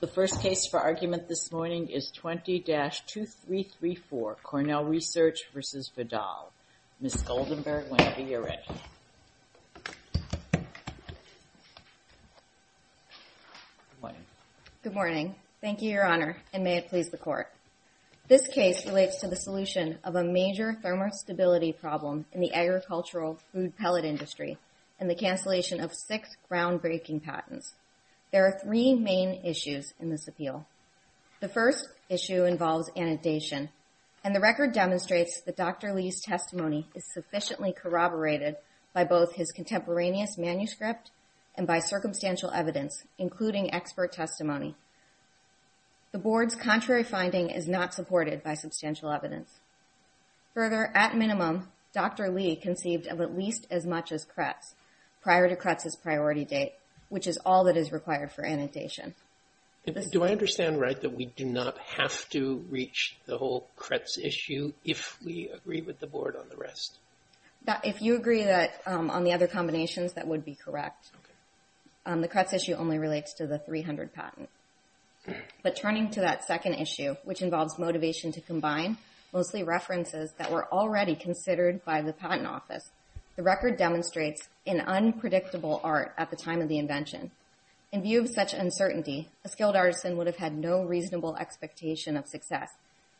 The first case for argument this morning is 20-2334, Cornell Research v. Vidal. Ms. Goldenberg, whenever you're ready. Good morning. Good morning. Thank you, Your Honor, and may it please the Court. This case relates to the solution of a major thermostability problem in the agricultural food pellet industry and the cancellation of six groundbreaking patents. There are three main issues in this appeal. The first issue involves annotation, and the record demonstrates that Dr. Lee's testimony is sufficiently corroborated by both his contemporaneous manuscript and by circumstantial evidence, including expert testimony. The Board's contrary finding is not supported by substantial evidence. Further, at minimum, Dr. Lee conceived of at least as much as Kretz prior to Kretz's priority date, which is all that is required for annotation. Do I understand right that we do not have to reach the whole Kretz issue if we agree with the Board on the rest? If you agree on the other combinations, that would be correct. The Kretz issue only relates to the 300 patents. But turning to that second issue, which involves motivation to combine, mostly references that were already considered by the Patent Office, the record demonstrates an unpredictable art at the time of the invention. In view of such uncertainty, a skilled artisan would have had no reasonable expectation of success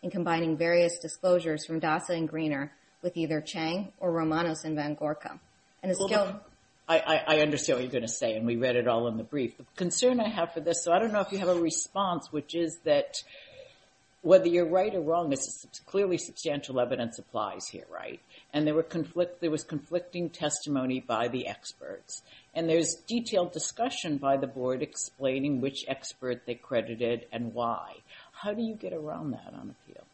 in combining various disclosures from Dasa and Greener with either Chang or Romanos and Van Gorka. I understand what you're going to say, and we read it all in the brief. The concern I have for this, so I don't know if you have a response, which is that whether you're right or wrong, this is clearly substantial evidence applies here, right? And there was conflicting testimony by the experts. And there's detailed discussion by the Board explaining which expert they credited and why. How do you get around that on the field?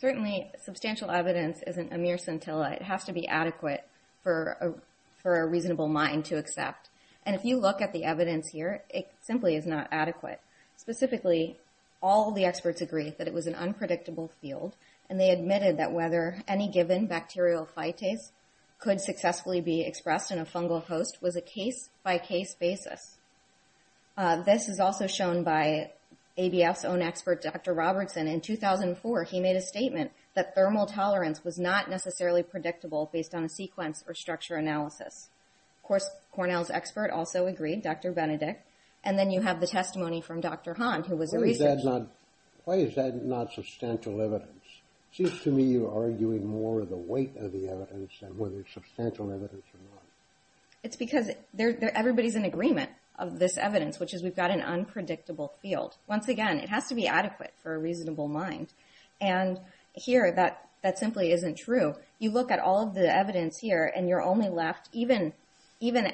Certainly, substantial evidence isn't a mere scintilla. It has to be adequate for a reasonable mind to accept. And if you look at the evidence here, it simply is not adequate. Specifically, all the experts agree that it was an unpredictable field, and they admitted that whether any given bacterial phytase could successfully be expressed in a fungal host was a case-by-case basis. This is also shown by ABF's own expert, Dr. Robertson. In 2004, he made a statement that thermal tolerance was not necessarily predictable based on a sequence or structure analysis. Of course, Cornell's expert also agreed, Dr. Benedict. And then you have the testimony from Dr. Hahn, who was a researcher. Why is that not substantial evidence? It seems to me you're arguing more of the weight of the evidence than whether it's substantial evidence or not. It's because everybody's in agreement of this evidence, which is we've got an unpredictable field. Once again, it has to be adequate for a reasonable mind. And here, that simply isn't true. You look at all of the evidence here, and you're only left, even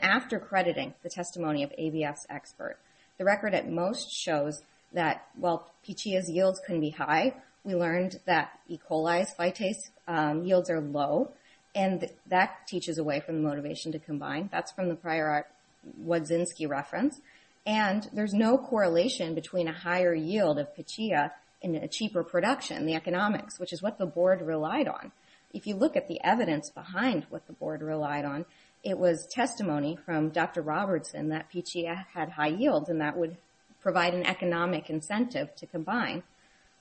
after crediting the testimony of ABF's expert, the record, at most, shows that while Pechia's yields can be high, we learned that E. coli's phytase yields are low. And that teaches away from the motivation to combine. That's from the prior Wodzinski reference. And there's no correlation between a higher yield of Pechia and a cheaper production, the economics, which is what the board relied on. If you look at the evidence behind what the board relied on, it was testimony from Dr. Robertson that Pechia had high yields, and that would provide an economic incentive to combine.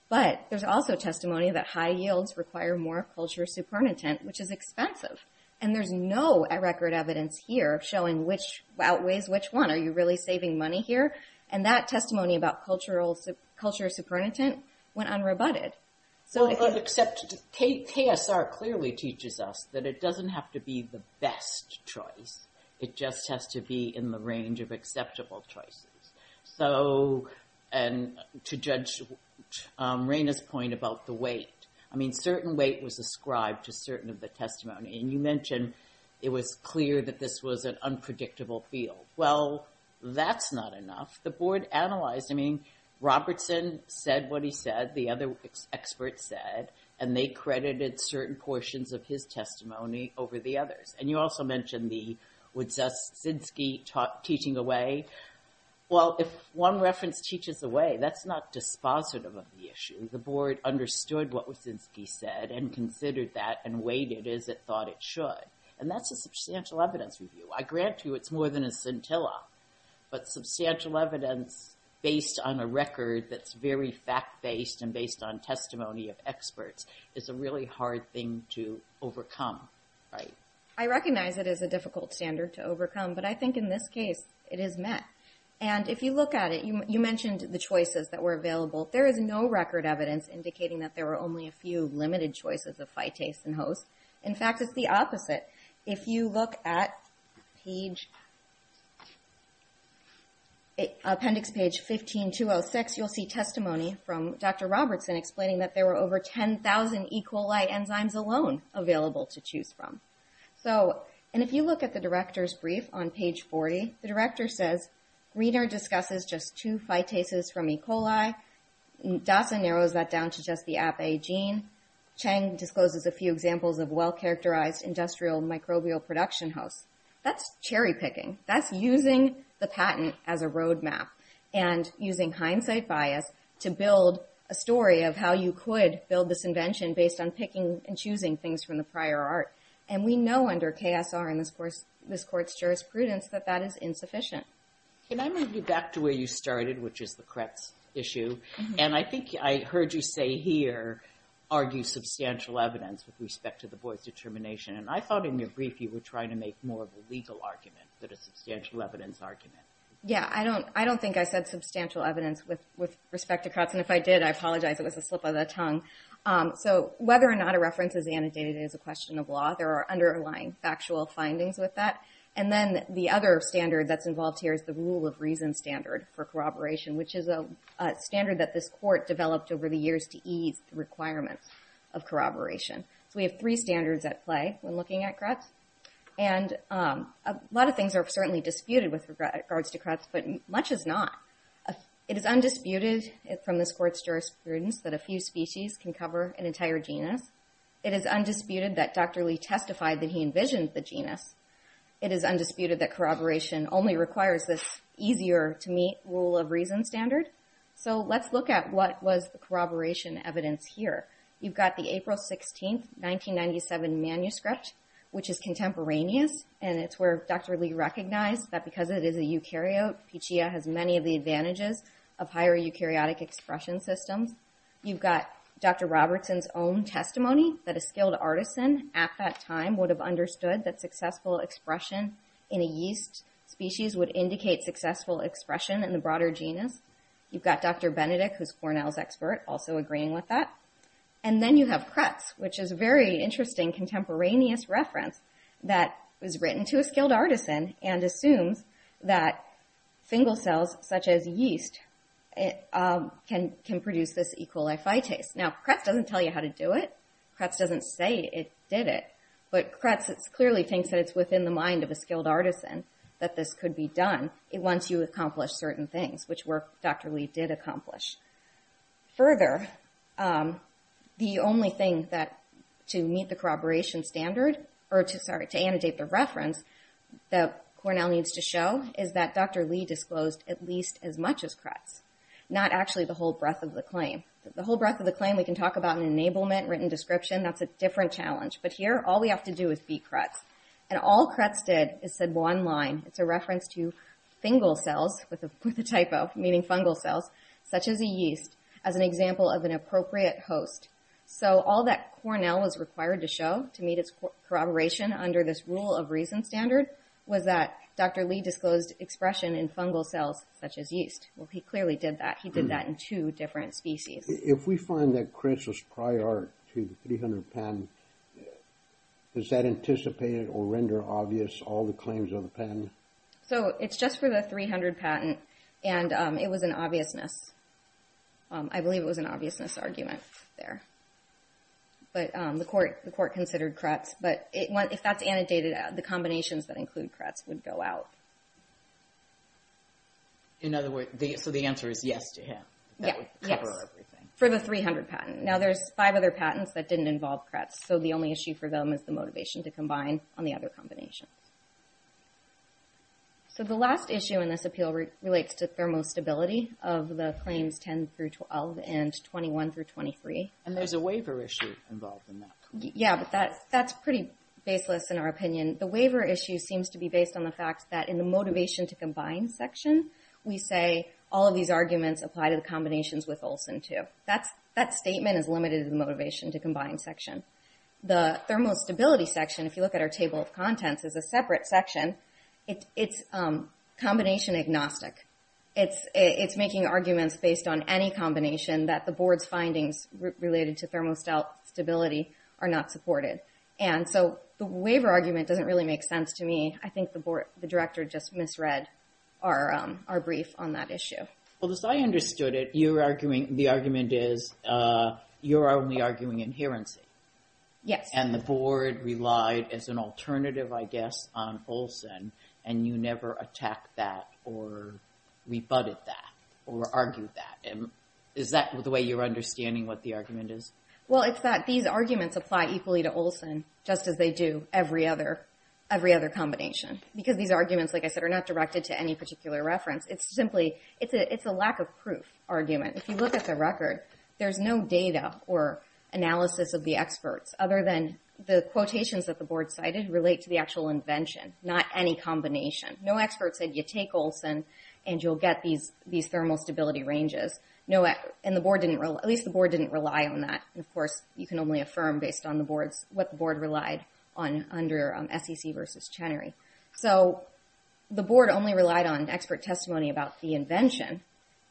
But there's also testimony that high yields require more culture supernatant, which is expensive. And there's no record evidence here showing which outweighs which one. Are you really saving money here? And that testimony about culture supernatant went unrebutted. KSR clearly teaches us that it doesn't have to be the best choice. It just has to be in the range of acceptable choices. So to judge Raina's point about the weight, I mean, certain weight was ascribed to certain of the testimony. And you mentioned it was clear that this was an unpredictable field. Well, that's not enough. The board analyzed, I mean, Robertson said what he said. The other experts said. And they credited certain portions of his testimony over the others. And you also mentioned the Wyszynski teaching away. Well, if one reference teaches away, that's not dispositive of the issue. The board understood what Wyszynski said and considered that and weighed it as it thought it should. And that's a substantial evidence review. I grant you it's more than a scintilla, but substantial evidence based on a record that's very fact-based and based on testimony of experts is a really hard thing to overcome. I recognize it is a difficult standard to overcome, but I think in this case it is met. And if you look at it, you mentioned the choices that were available. There is no record evidence indicating that there were only a few limited choices of phytase and host. In fact, it's the opposite. If you look at appendix page 15-206, you'll see testimony from Dr. Robertson explaining that there were over 10,000 E. coli enzymes alone available to choose from. And if you look at the director's brief on page 40, the director says, Greener discusses just two phytases from E. coli. Dasa narrows that down to just the APA gene. Chang discloses a few examples of well-characterized industrial microbial production hosts. That's cherry-picking. That's using the patent as a road map and using hindsight bias to build a story of how you could build this invention based on picking and choosing things from the prior art. And we know under KSR and this Court's jurisprudence that that is insufficient. Can I move you back to where you started, which is the Kretz issue? And I think I heard you say here argue substantial evidence with respect to the boy's determination. And I thought in your brief you were trying to make more of a legal argument than a substantial evidence argument. Yeah. I don't think I said substantial evidence with respect to Kretz. And if I did, I apologize. It was a slip of the tongue. So whether or not a reference is annotated as a question of law, there are underlying factual findings with that. And then the other standard that's involved here is the rule of reason standard for corroboration, which is a standard that this Court developed over the years to ease the requirements of corroboration. So we have three standards at play when looking at Kretz. And a lot of things are certainly disputed with regards to Kretz, but much is not. It is undisputed from this Court's jurisprudence that a few species can cover an entire genus. It is undisputed that Dr. Lee testified that he envisioned the genus. It is undisputed that corroboration only requires this easier-to-meet rule of reason standard. So let's look at what was the corroboration evidence here. You've got the April 16, 1997 manuscript, which is contemporaneous, and it's where Dr. Lee recognized that because it is a eukaryote, Pichia has many of the advantages of higher eukaryotic expression systems. You've got Dr. Robertson's own testimony that a skilled artisan at that time would have understood that successful expression in a yeast species would indicate successful expression in the broader genus. You've got Dr. Benedict, who's Cornell's expert, also agreeing with that. And then you have Kretz, which is a very interesting contemporaneous reference that was written to a skilled artisan and assumes that fingal cells such as yeast can produce this E. coli fitase. Now Kretz doesn't tell you how to do it. Kretz doesn't say it did it. But Kretz clearly thinks that it's within the mind of a skilled artisan that this could be done once you accomplish certain things, which work Dr. Lee did accomplish. Further, the only thing to meet the corroboration standard, or to annotate the reference that Cornell needs to show, is that Dr. Lee disclosed at least as much as Kretz, not actually the whole breadth of the claim. The whole breadth of the claim we can talk about in enablement, written description, that's a different challenge. But here, all we have to do is be Kretz. And all Kretz did is said one line. It's a reference to fingal cells, with a typo, meaning fungal cells, such as a yeast, as an example of an appropriate host. So all that Cornell was required to show to meet its corroboration under this rule of reason standard was that Dr. Lee disclosed expression in fungal cells such as yeast. Well, he clearly did that. He did that in two different species. If we find that Kretz was prior to the 300 patent, does that anticipate or render obvious all the claims of the patent? So it's just for the 300 patent, and it was an obviousness. I believe it was an obviousness argument there. But the court considered Kretz. But if that's annotated, the combinations that include Kretz would go out. In other words, so the answer is yes to him? Yes, for the 300 patent. Now, there's five other patents that didn't involve Kretz, so the only issue for them is the motivation to combine on the other combinations. So the last issue in this appeal relates to thermostability of the claims 10 through 12 and 21 through 23. And there's a waiver issue involved in that. Yeah, but that's pretty baseless in our opinion. The waiver issue seems to be based on the fact that in the motivation to combine section, we say all of these arguments apply to the combinations with Olson, too. That statement is limited in the motivation to combine section. The thermostability section, if you look at our table of contents, is a separate section. It's combination agnostic. It's making arguments based on any combination that the board's findings related to thermostability are not supported. And so the waiver argument doesn't really make sense to me. I think the director just misread our brief on that issue. Well, as I understood it, the argument is you're only arguing inherency. Yes. And the board relied as an alternative, I guess, on Olson, and you never attacked that or rebutted that or argued that. Is that the way you're understanding what the argument is? Well, it's that these arguments apply equally to Olson, just as they do every other combination. Because these arguments, like I said, are not directed to any particular reference. It's simply a lack of proof argument. If you look at the record, there's no data or analysis of the experts other than the quotations that the board cited relate to the actual invention, not any combination. No expert said you take Olson and you'll get these thermostability ranges. And the board didn't rely on that. And, of course, you can only affirm based on what the board relied on under SEC versus Chenery. So the board only relied on expert testimony about the invention,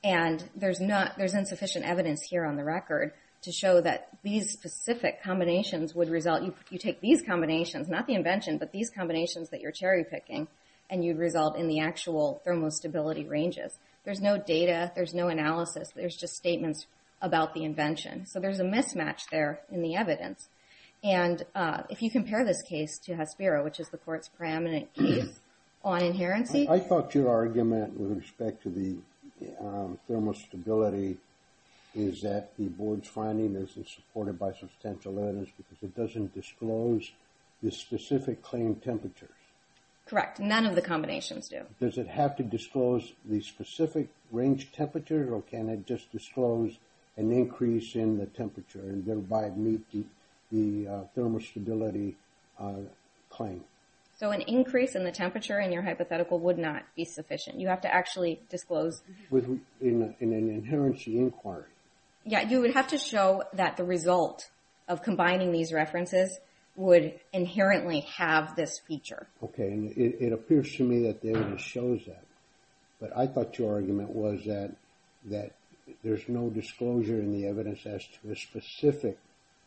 and there's insufficient evidence here on the record to show that these specific combinations would result. You take these combinations, not the invention, but these combinations that you're cherry-picking, and you'd result in the actual thermostability ranges. There's no analysis. There's just statements about the invention. So there's a mismatch there in the evidence. And if you compare this case to Hasbiro, which is the court's preeminent case on inherency. I thought your argument with respect to the thermostability is that the board's finding isn't supported by substantial evidence because it doesn't disclose the specific claim temperatures. Correct. None of the combinations do. Does it have to disclose the specific range temperature, or can it just disclose an increase in the temperature and thereby meet the thermostability claim? So an increase in the temperature in your hypothetical would not be sufficient. You have to actually disclose. In an inherency inquiry. Yeah, you would have to show that the result of combining these references would inherently have this feature. Okay, and it appears to me that the evidence shows that. But I thought your argument was that there's no disclosure in the evidence as to a specific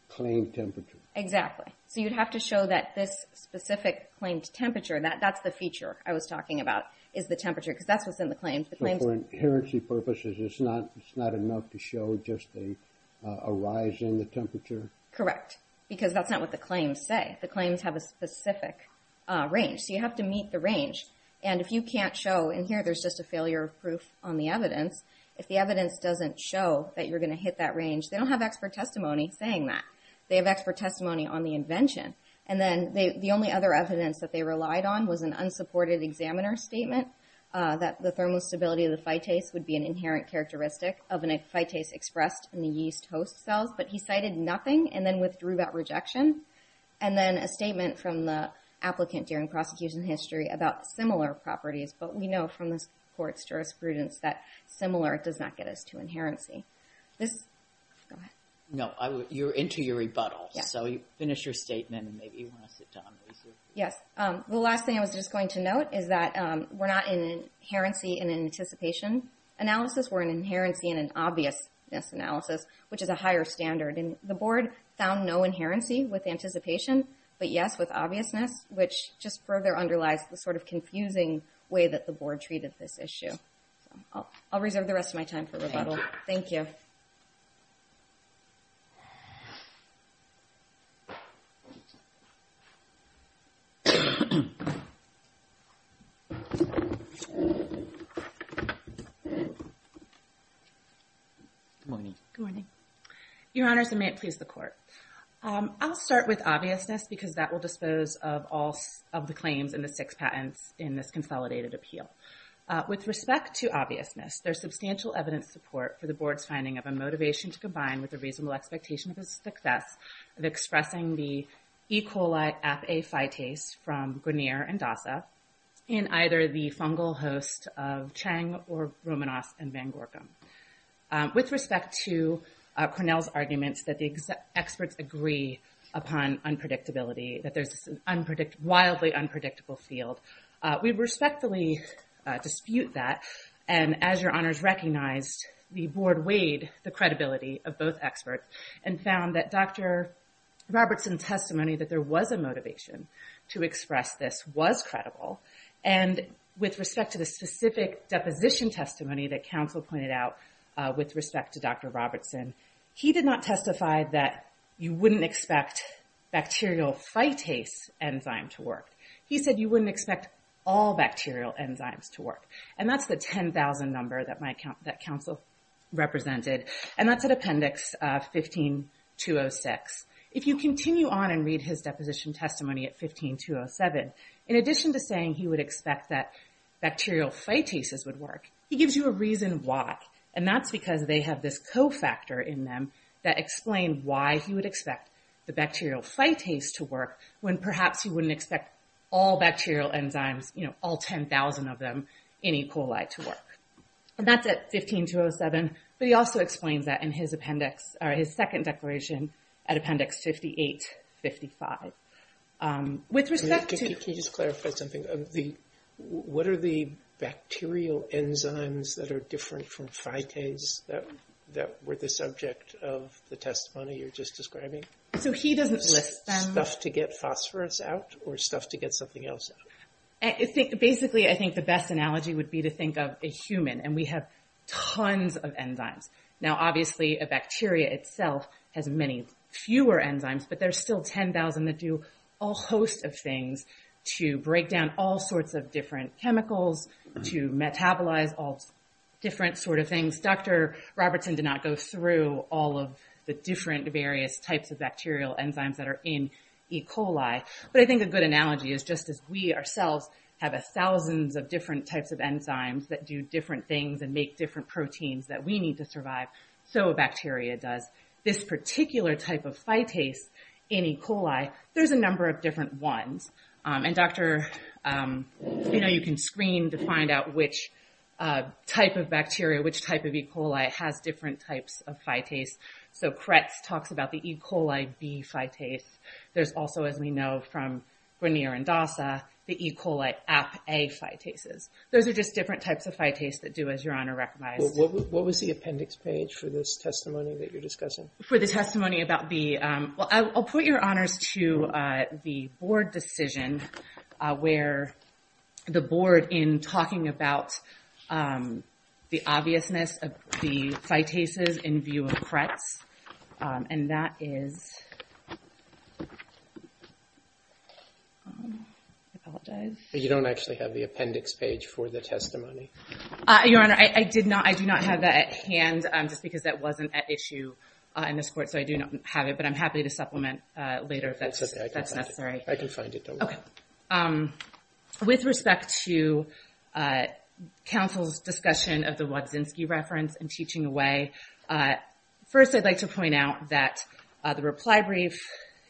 claim temperature. Exactly. So you'd have to show that this specific claimed temperature, that's the feature I was talking about, is the temperature. Because that's what's in the claims. So for inherency purposes, it's not enough to show just a rise in the temperature? Correct. Because that's not what the claims say. The claims have a specific range. So you have to meet the range. And if you can't show, and here there's just a failure of proof on the evidence, if the evidence doesn't show that you're going to hit that range, they don't have expert testimony saying that. They have expert testimony on the invention. And then the only other evidence that they relied on was an unsupported examiner statement that the thermostability of the phytase would be an inherent characteristic of a phytase expressed in the yeast host cells. But he cited nothing and then withdrew that rejection. And then a statement from the applicant during prosecution history about similar properties. But we know from this court's jurisprudence that similar does not get us to inherency. Go ahead. No, you're into your rebuttal. So finish your statement and maybe you want to sit down. Yes. The last thing I was just going to note is that we're not in an inherency and an anticipation analysis. We're in an inherency and an obviousness analysis, which is a higher standard. And the board found no inherency with anticipation, but, yes, with obviousness, which just further underlies the sort of confusing way that the board treated this issue. I'll reserve the rest of my time for rebuttal. Thank you. Good morning. Good morning. Your Honors, and may it please the court. I'll start with obviousness because that will dispose of all of the claims and the six patents in this consolidated appeal. With respect to obviousness, there's substantial evidence support for the board's finding of a motivation to combine with a reasonable expectation of the success of expressing the E. coli apafytase from Grenier and DASA in either the fungal host of Chang or Romanos and Van Gorkum. With respect to Cornell's arguments that the experts agree upon unpredictability, that there's this wildly unpredictable field, we respectfully dispute that. And as your Honors recognized, the board weighed the credibility of both experts and found that Dr. Robertson's testimony that there was a motivation to express this was credible. And with respect to the specific deposition testimony that counsel pointed out with respect to Dr. Robertson, he did not testify that you wouldn't expect bacterial phytase enzyme to work. He said you wouldn't expect all bacterial enzymes to work. And that's the 10,000 number that counsel represented. And that's at appendix 15-206. If you continue on and read his deposition testimony at 15-207, in addition to saying he would expect that bacterial phytases would work, he gives you a reason why. And that's because they have this co-factor in them that explain why he would expect the bacterial phytase to work when perhaps you wouldn't expect all bacterial enzymes, you know, all 10,000 of them, any coli to work. And that's at 15-207. But he also explains that in his appendix, or his second declaration at appendix 58-55. With respect to... Enzymes that are different from phytase that were the subject of the testimony you're just describing? So he doesn't list them. Stuff to get phosphorous out or stuff to get something else out? Basically, I think the best analogy would be to think of a human. And we have tons of enzymes. Now, obviously, a bacteria itself has many fewer enzymes, but there's still 10,000 that do a whole host of things to break down all different sort of things. Dr. Robertson did not go through all of the different various types of bacterial enzymes that are in E. coli. But I think a good analogy is just as we ourselves have thousands of different types of enzymes that do different things and make different proteins that we need to survive, so a bacteria does. This particular type of phytase in E. coli, there's a number of different ones. And, Dr., you know, you can screen to find out which type of bacteria, which type of E. coli has different types of phytase. So Kretz talks about the E. coli B phytase. There's also, as we know from Grenier and Dasa, the E. coli App A phytases. Those are just different types of phytase that do, as Your Honor recognized. What was the appendix page for this testimony that you're discussing? For the testimony about B, well, I'll put your honors to the board decision where the board, in talking about the obviousness of the phytases in view of Kretz, and that is, I apologize. You don't actually have the appendix page for the testimony. Your Honor, I do not have that at hand, just because that wasn't at issue in this court. So I do not have it, but I'm happy to supplement later if that's necessary. That's okay. I can find it. Okay. With respect to counsel's discussion of the Wodzinski reference and teaching away, first I'd like to point out that the reply brief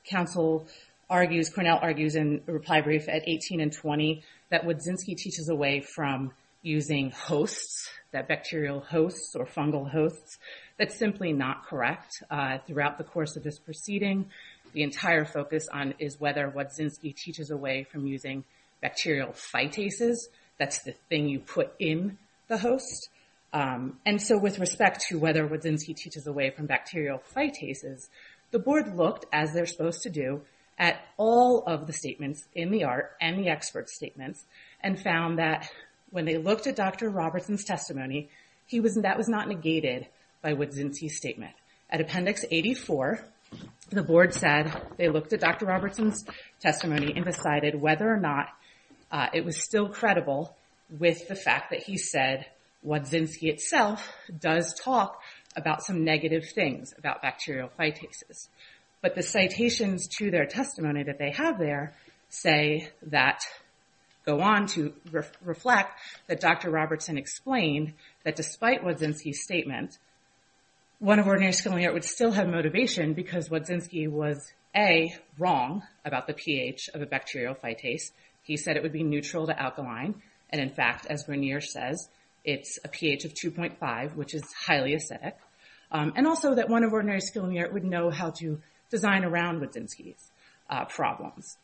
counsel argues, Cornell argues in the reply brief at 18 and 20, that Wodzinski teaches away from using hosts, that bacterial hosts or fungal hosts. That's simply not correct. Throughout the course of this proceeding, the entire focus on is whether Wodzinski teaches away from using bacterial phytases. That's the thing you put in the host. And so with respect to whether Wodzinski teaches away from bacterial phytases, the board looked, as they're supposed to do, at all of the statements in the art and the expert statements, and found that when they looked at Dr. Robertson's testimony, that was not negated by Wodzinski's statement. At appendix 84, the board said they looked at Dr. Robertson's testimony and decided whether or not it was still credible with the fact that he said Wodzinski itself does talk about some negative things about bacterial phytases. But the citations to their testimony that they have there say that, go on to reflect that Dr. Robertson explained that despite Wodzinski's statement, one of Ordinary School in the Art would still have motivation because Wodzinski was, A, wrong about the pH of a bacterial phytase. He said it would be neutral to alkaline. And in fact, as Vernier says, it's a pH of 2.5, which is highly acidic. And also that one of Ordinary School in the Art would know how to design around Wodzinski's problems.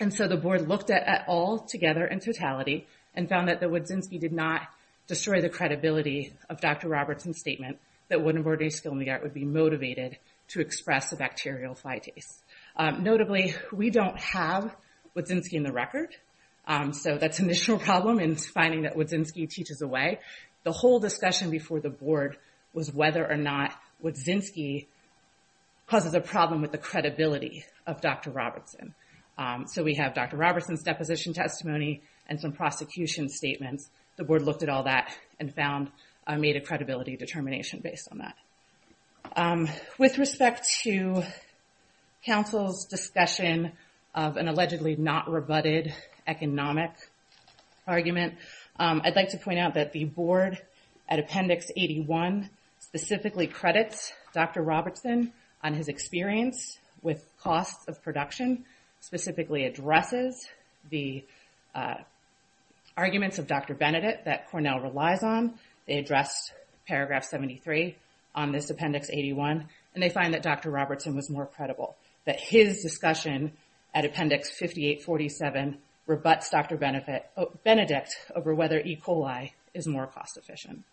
And so the board looked at it all together in totality and found that Wodzinski did not destroy the credibility of Dr. Robertson's statement that one of Ordinary School in the Art would be motivated to express a bacterial phytase. Notably, we don't have Wodzinski in the record. So that's an initial problem in finding that Wodzinski teaches away. The whole discussion before the board was whether or not Wodzinski causes a problem with the credibility of Dr. Robertson. So we have Dr. Robertson's deposition testimony and some prosecution statements. The board looked at all that and made a credibility determination based on that. With respect to counsel's discussion of an allegedly not rebutted economic argument, I'd like to point out that the board at Appendix 81 specifically credits Dr. Robertson on his experience with costs of production, specifically addresses the arguments of Dr. Benedict that Cornell relies on. They addressed Paragraph 73 on this Appendix 81, and they find that Dr. Robertson was more credible. That his discussion at Appendix 5847 rebuts Dr. Benedict over whether E. coli is more cost-efficient.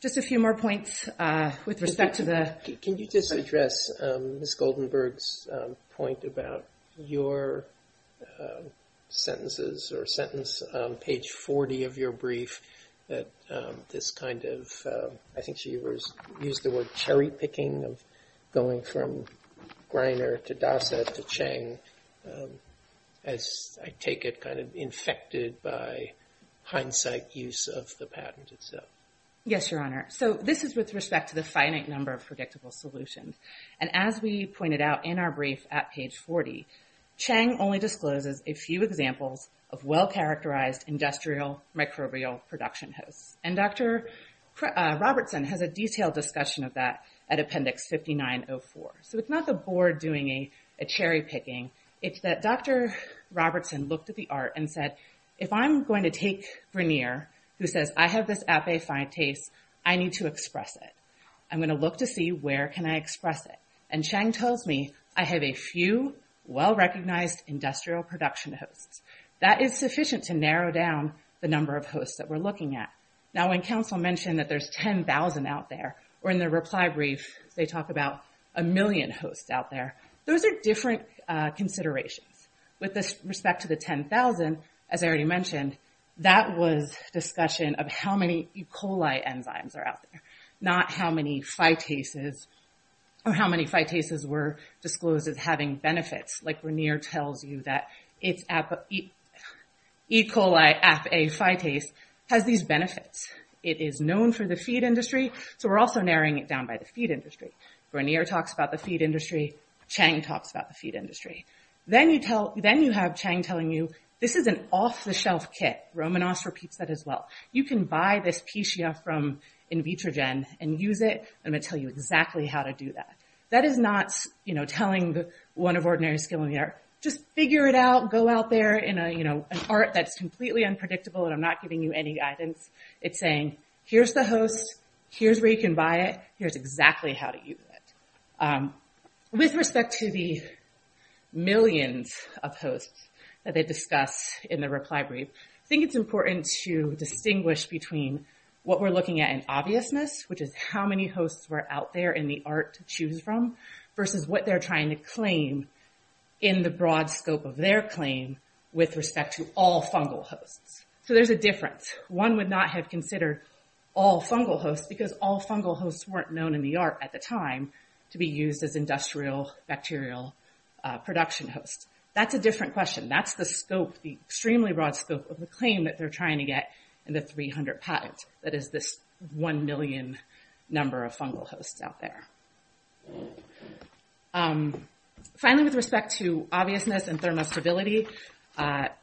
Just a few more points with respect to the— Can you just address Ms. Goldenberg's point about your sentences or sentence on page 40 of your brief that this kind of— I think she used the word cherry-picking of going from Greiner to Dossett to Chang, as I take it, kind of infected by hindsight use of the patent itself. Yes, Your Honor. So this is with respect to the finite number of predictable solutions. And as we pointed out in our brief at page 40, Chang only discloses a few examples of well-characterized industrial microbial production hosts. And Dr. Robertson has a detailed discussion of that at Appendix 5904. So it's not the board doing a cherry-picking. It's that Dr. Robertson looked at the art and said, if I'm going to take Greiner, who says, I have this appe finites, I need to express it. I'm going to look to see where can I express it. And Chang tells me, I have a few well-recognized industrial production hosts. That is sufficient to narrow down the number of hosts that we're looking at. Now, when counsel mentioned that there's 10,000 out there, or in the reply brief, they talk about a million hosts out there, those are different considerations. With respect to the 10,000, as I already mentioned, that was discussion of how many E. coli enzymes are out there, not how many phytases or how many phytases were disclosed as having benefits. Like Greiner tells you that E. coli appe finites has these benefits. It is known for the feed industry. So we're also narrowing it down by the feed industry. Greiner talks about the feed industry. Chang talks about the feed industry. Then you have Chang telling you, this is an off-the-shelf kit. Romanos repeats that as well. You can buy this Pecia from Invitrogen and use it. I'm going to tell you exactly how to do that. That is not telling the one of ordinary skill in the air, just figure it out, go out there in an art that's completely unpredictable, and I'm not giving you any guidance. It's saying, here's the host, here's where you can buy it, here's exactly how to use it. With respect to the millions of hosts that they discuss in the reply brief, I think it's important to distinguish between what we're looking at in obviousness, which is how many hosts were out there in the art to choose from, versus what they're trying to claim in the broad scope of their claim with respect to all fungal hosts. So there's a difference. One would not have considered all fungal hosts, because all fungal hosts weren't known in the art at the time to be used as industrial bacterial production hosts. That's a different question. That's the scope, the extremely broad scope of the claim that they're trying to get in the 300 patent, that is this one million number of fungal hosts out there. Finally, with respect to obviousness and thermostability,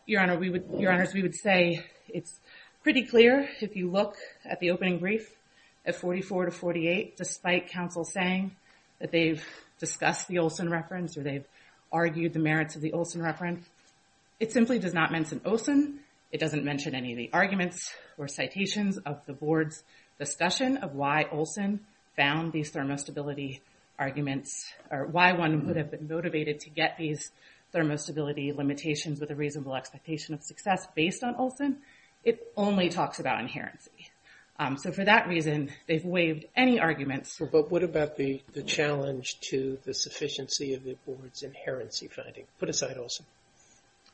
your honors, we would say it's pretty clear, if you look at the opening brief at 44 to 48, despite counsel saying that they've discussed the Olson reference or they've argued the merits of the Olson reference, it simply does not mention Olson. It doesn't mention any of the arguments or citations of the board's discussion of why Olson found these thermostability arguments, or why one would have been motivated to get these thermostability limitations with a reasonable expectation of success based on Olson. It only talks about inherency. So for that reason, they've waived any arguments. But what about the challenge to the sufficiency of the board's inherency finding? Put aside Olson.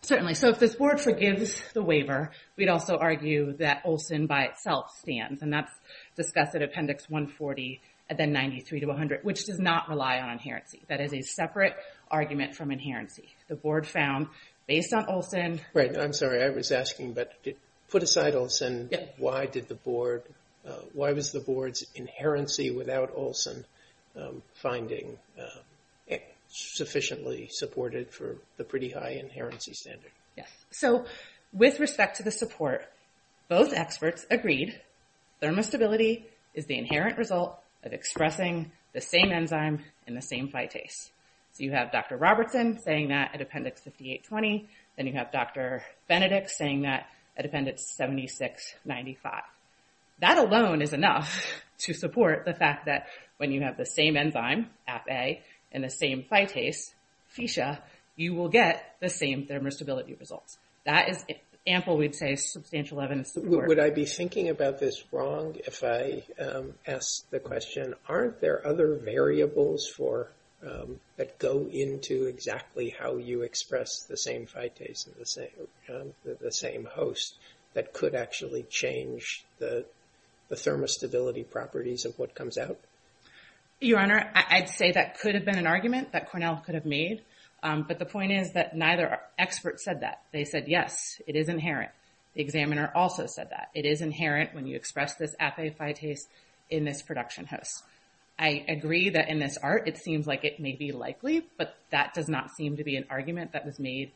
Certainly. So if this board forgives the waiver, we'd also argue that Olson by itself stands, and that's discussed at Appendix 140 and then 93 to 100, which does not rely on inherency. That is a separate argument from inherency. The board found, based on Olson... Right. I'm sorry. I was asking, but put aside Olson, why was the board's inherency without Olson finding sufficiently supported for the pretty high inherency standard? Yes. So with respect to the support, both experts agreed thermostability is the inherent result of expressing the same enzyme in the same phytase. So you have Dr. Robertson saying that at Appendix 5820, then you have Dr. Benedict saying that at Appendix 7695. That alone is enough to support the fact that when you have the same enzyme, ApA, and the same phytase, fecia, you will get the same thermostability results. That is ample, we'd say, substantial evidence support. Would I be thinking about this wrong if I asked the question, aren't there other variables that go into exactly how you express the same phytase and the same host that could actually change the thermostability properties of what comes out? Your Honor, I'd say that could have been an argument that Cornell could have made, but the point is that neither expert said that. They said, yes, it is inherent. The examiner also said that. It is inherent when you express this ApA phytase in this production host. I agree that in this art, it seems like it may be likely, but that does not seem to be an argument that was made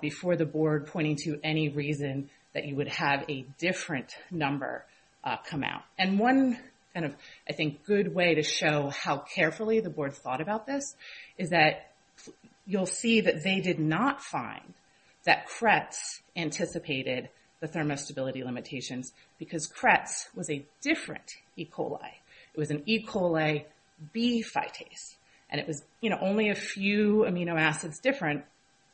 before the board pointing to any reason that you would have a different number come out. And one kind of, I think, good way to show how carefully the board thought about this is that you'll see that they did not find that Kretz anticipated the thermostability limitations because Kretz was a different E. coli. It was an E. coli B phytase, and it was only a few amino acids different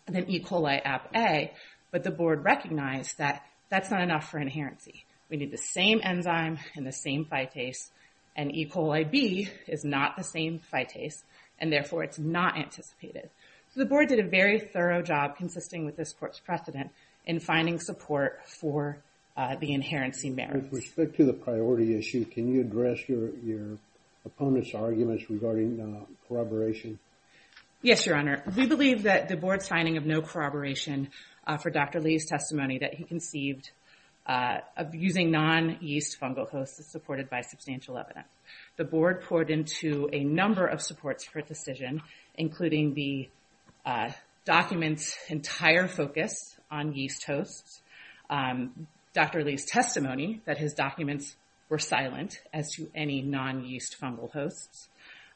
than E. coli ApA, but the board recognized that that's not enough for inherency. We need the same enzyme and the same phytase, and E. coli B is not the same phytase, and therefore, it's not anticipated. So the board did a very thorough job, consisting with this court's precedent, in finding support for the inherency merits. With respect to the priority issue, can you address your opponent's arguments regarding corroboration? Yes, Your Honor. We believe that the board's finding of no corroboration for Dr. Lee's testimony that he conceived of using non-yeast fungal hosts is supported by substantial evidence. The board poured into a number of supports for a decision, including the document's entire focus on yeast hosts, Dr. Lee's testimony that his documents were silent as to any non-yeast fungal hosts.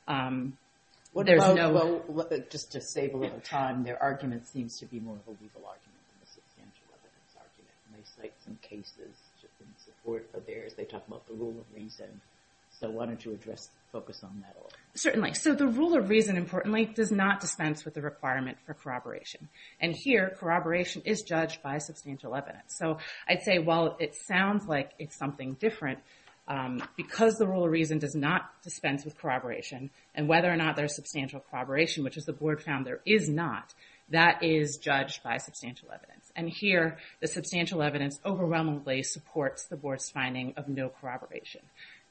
Well, just to save a little time, their argument seems to be more of a legal argument than a substantial evidence argument, and they cite some cases in support of theirs. They talk about the rule of reason, so why don't you address, focus on that a little? Certainly. So the rule of reason, importantly, does not dispense with the requirement for corroboration. And here, corroboration is judged by substantial evidence. So I'd say, while it sounds like it's something different, because the rule of reason does not dispense with corroboration, and whether or not there's substantial corroboration, which, as the board found, there is not, that is judged by substantial evidence. And here, the substantial evidence overwhelmingly supports the board's finding of no corroboration.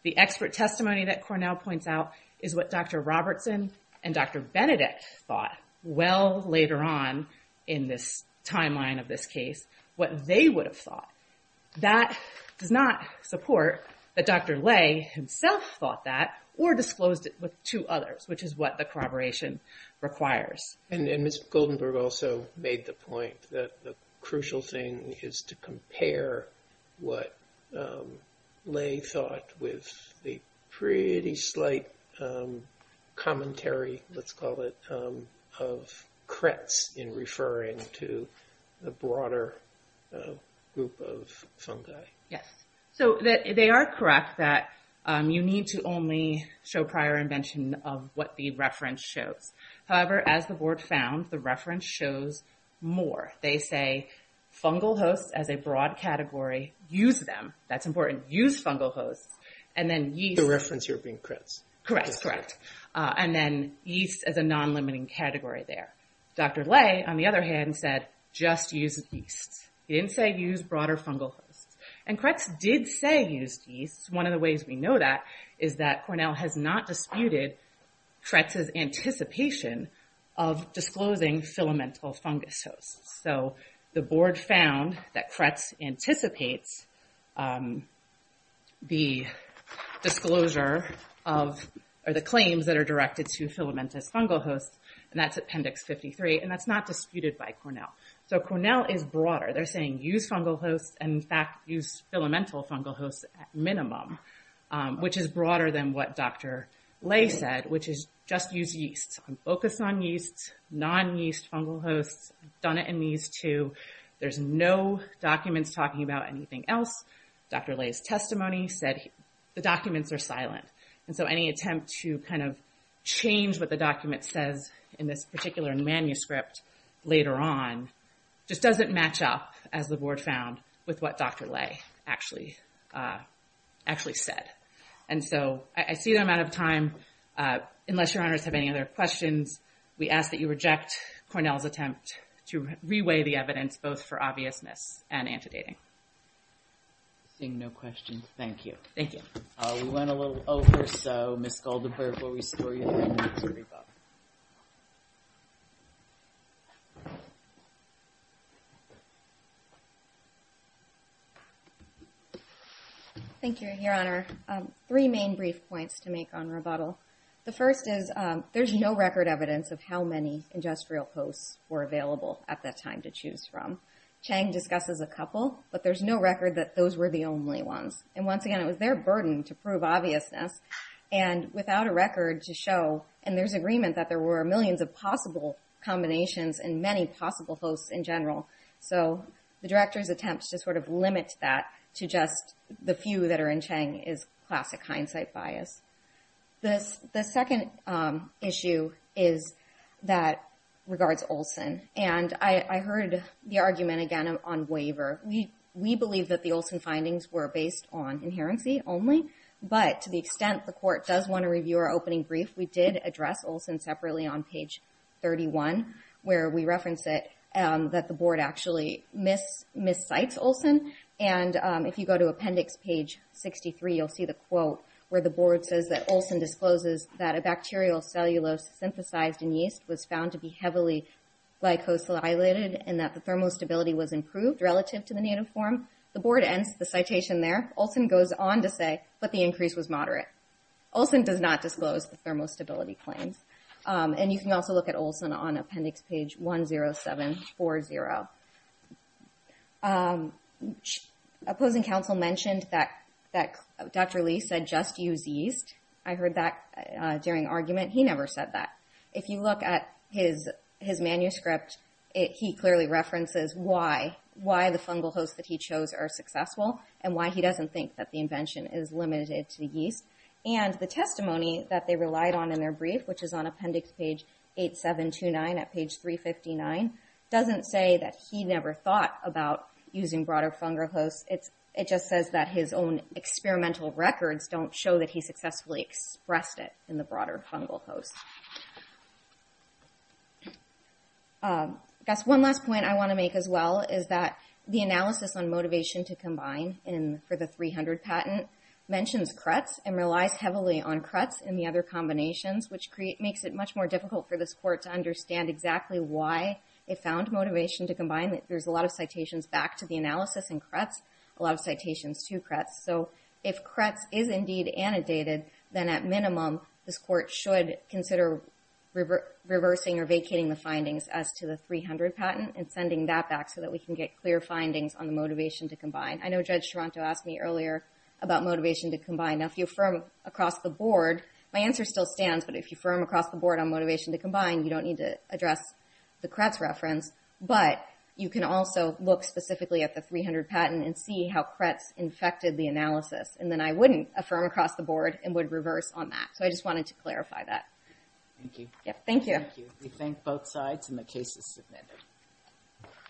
The expert testimony that Cornell points out is what Dr. Robertson and Dr. Benedict thought, well later on in this timeline of this case, what they would have thought. That does not support that Dr. Lay himself thought that or disclosed it to others, which is what the corroboration requires. And Ms. Goldenberg also made the point that the crucial thing is to compare what Lay thought with the pretty slight commentary, let's call it, of Kretz in referring to the broader group of fungi. Yes. So they are correct that you need to only show prior invention of what the reference shows. However, as the board found, the reference shows more. They say fungal hosts as a broad category. Use them. That's important. Use fungal hosts. And then yeast. The reference here being Kretz. Correct, correct. And then yeast as a non-limiting category there. Dr. Lay, on the other hand, said just use yeast. He didn't say use broader fungal hosts. And Kretz did say use yeast. One of the ways we know that is that Cornell has not disputed Kretz's anticipation of disclosing filamental fungus hosts. So the board found that Kretz anticipates the disclosure of or the claims that are directed to filamentous fungal hosts. And that's Appendix 53. And that's not disputed by Cornell. So Cornell is broader. They're saying use fungal hosts and, in fact, use filamental fungal hosts at minimum, which is broader than what Dr. Lay said, which is just use yeast. Focus on yeast, non-yeast fungal hosts. Done it in these two. There's no documents talking about anything else. Dr. Lay's testimony said the documents are silent. And so any attempt to kind of change what the document says in this particular manuscript later on just doesn't match up, as the board found, with what Dr. Lay actually said. And so I see that I'm out of time. Unless your honors have any other questions, we ask that you reject Cornell's attempt to reweigh the evidence both for obviousness and antedating. Seeing no questions, thank you. Thank you. We went a little over, so Ms. Goldenberg will restore you to your rebuttal. Thank you, Your Honor. Three main brief points to make on rebuttal. The first is there's no record evidence of how many industrial hosts were available at that time to choose from. Chang discusses a couple, but there's no record that those were the only ones. And once again, it was their burden to prove obviousness. And without a record to show, and there's agreement that there were millions of possible combinations and many possible hosts in general. So the director's attempt to sort of limit that to just the few that are in Chang is classic hindsight bias. The second issue is that regards Olson. And I heard the argument again on waiver. We believe that the Olson findings were based on inherency only, but to the extent the court does want to review our opening brief, we did address Olson separately on page 31, where we reference it, that the board actually miscites Olson. And if you go to appendix page 63, you'll see the quote where the board says that Olson discloses that a bacterial cellulose synthesized in yeast was found to be heavily glycosylated and that the thermostability was improved relative to the native form. The board ends the citation there. Olson goes on to say, but the increase was moderate. Olson does not disclose the thermostability claims. And you can also look at Olson on appendix page 10740. Opposing counsel mentioned that Dr. Lee said just use yeast. I heard that during argument. He never said that. If you look at his manuscript, he clearly references why the fungal hosts that he chose are successful and why he doesn't think that the invention is limited to yeast. And the testimony that they relied on in their brief, which is on appendix page 8729 at page 359, doesn't say that he never thought about using broader fungal hosts. It just says that his own experimental records don't show that he successfully expressed it in the broader fungal hosts. I guess one last point I want to make as well is that the analysis on motivation to combine for the 300 patent mentions cruts and relies heavily on cruts and the other combinations, which makes it much more difficult for this court to understand exactly why it found motivation to combine. There's a lot of citations back to the analysis in cruts and a lot of citations to cruts. So if cruts is indeed annotated, then at minimum, this court should consider reversing or vacating the findings as to the 300 patent and sending that back so that we can get clear findings on the motivation to combine. I know Judge Toronto asked me earlier about motivation to combine. Now, if you affirm across the board, my answer still stands, but if you affirm across the board on motivation to combine, you don't need to address the cruts reference, but you can also look specifically at the 300 patent and see how cruts infected the analysis, and then I wouldn't affirm across the board and would reverse on that. So I just wanted to clarify that. Thank you. Thank you. We thank both sides, and the case is submitted.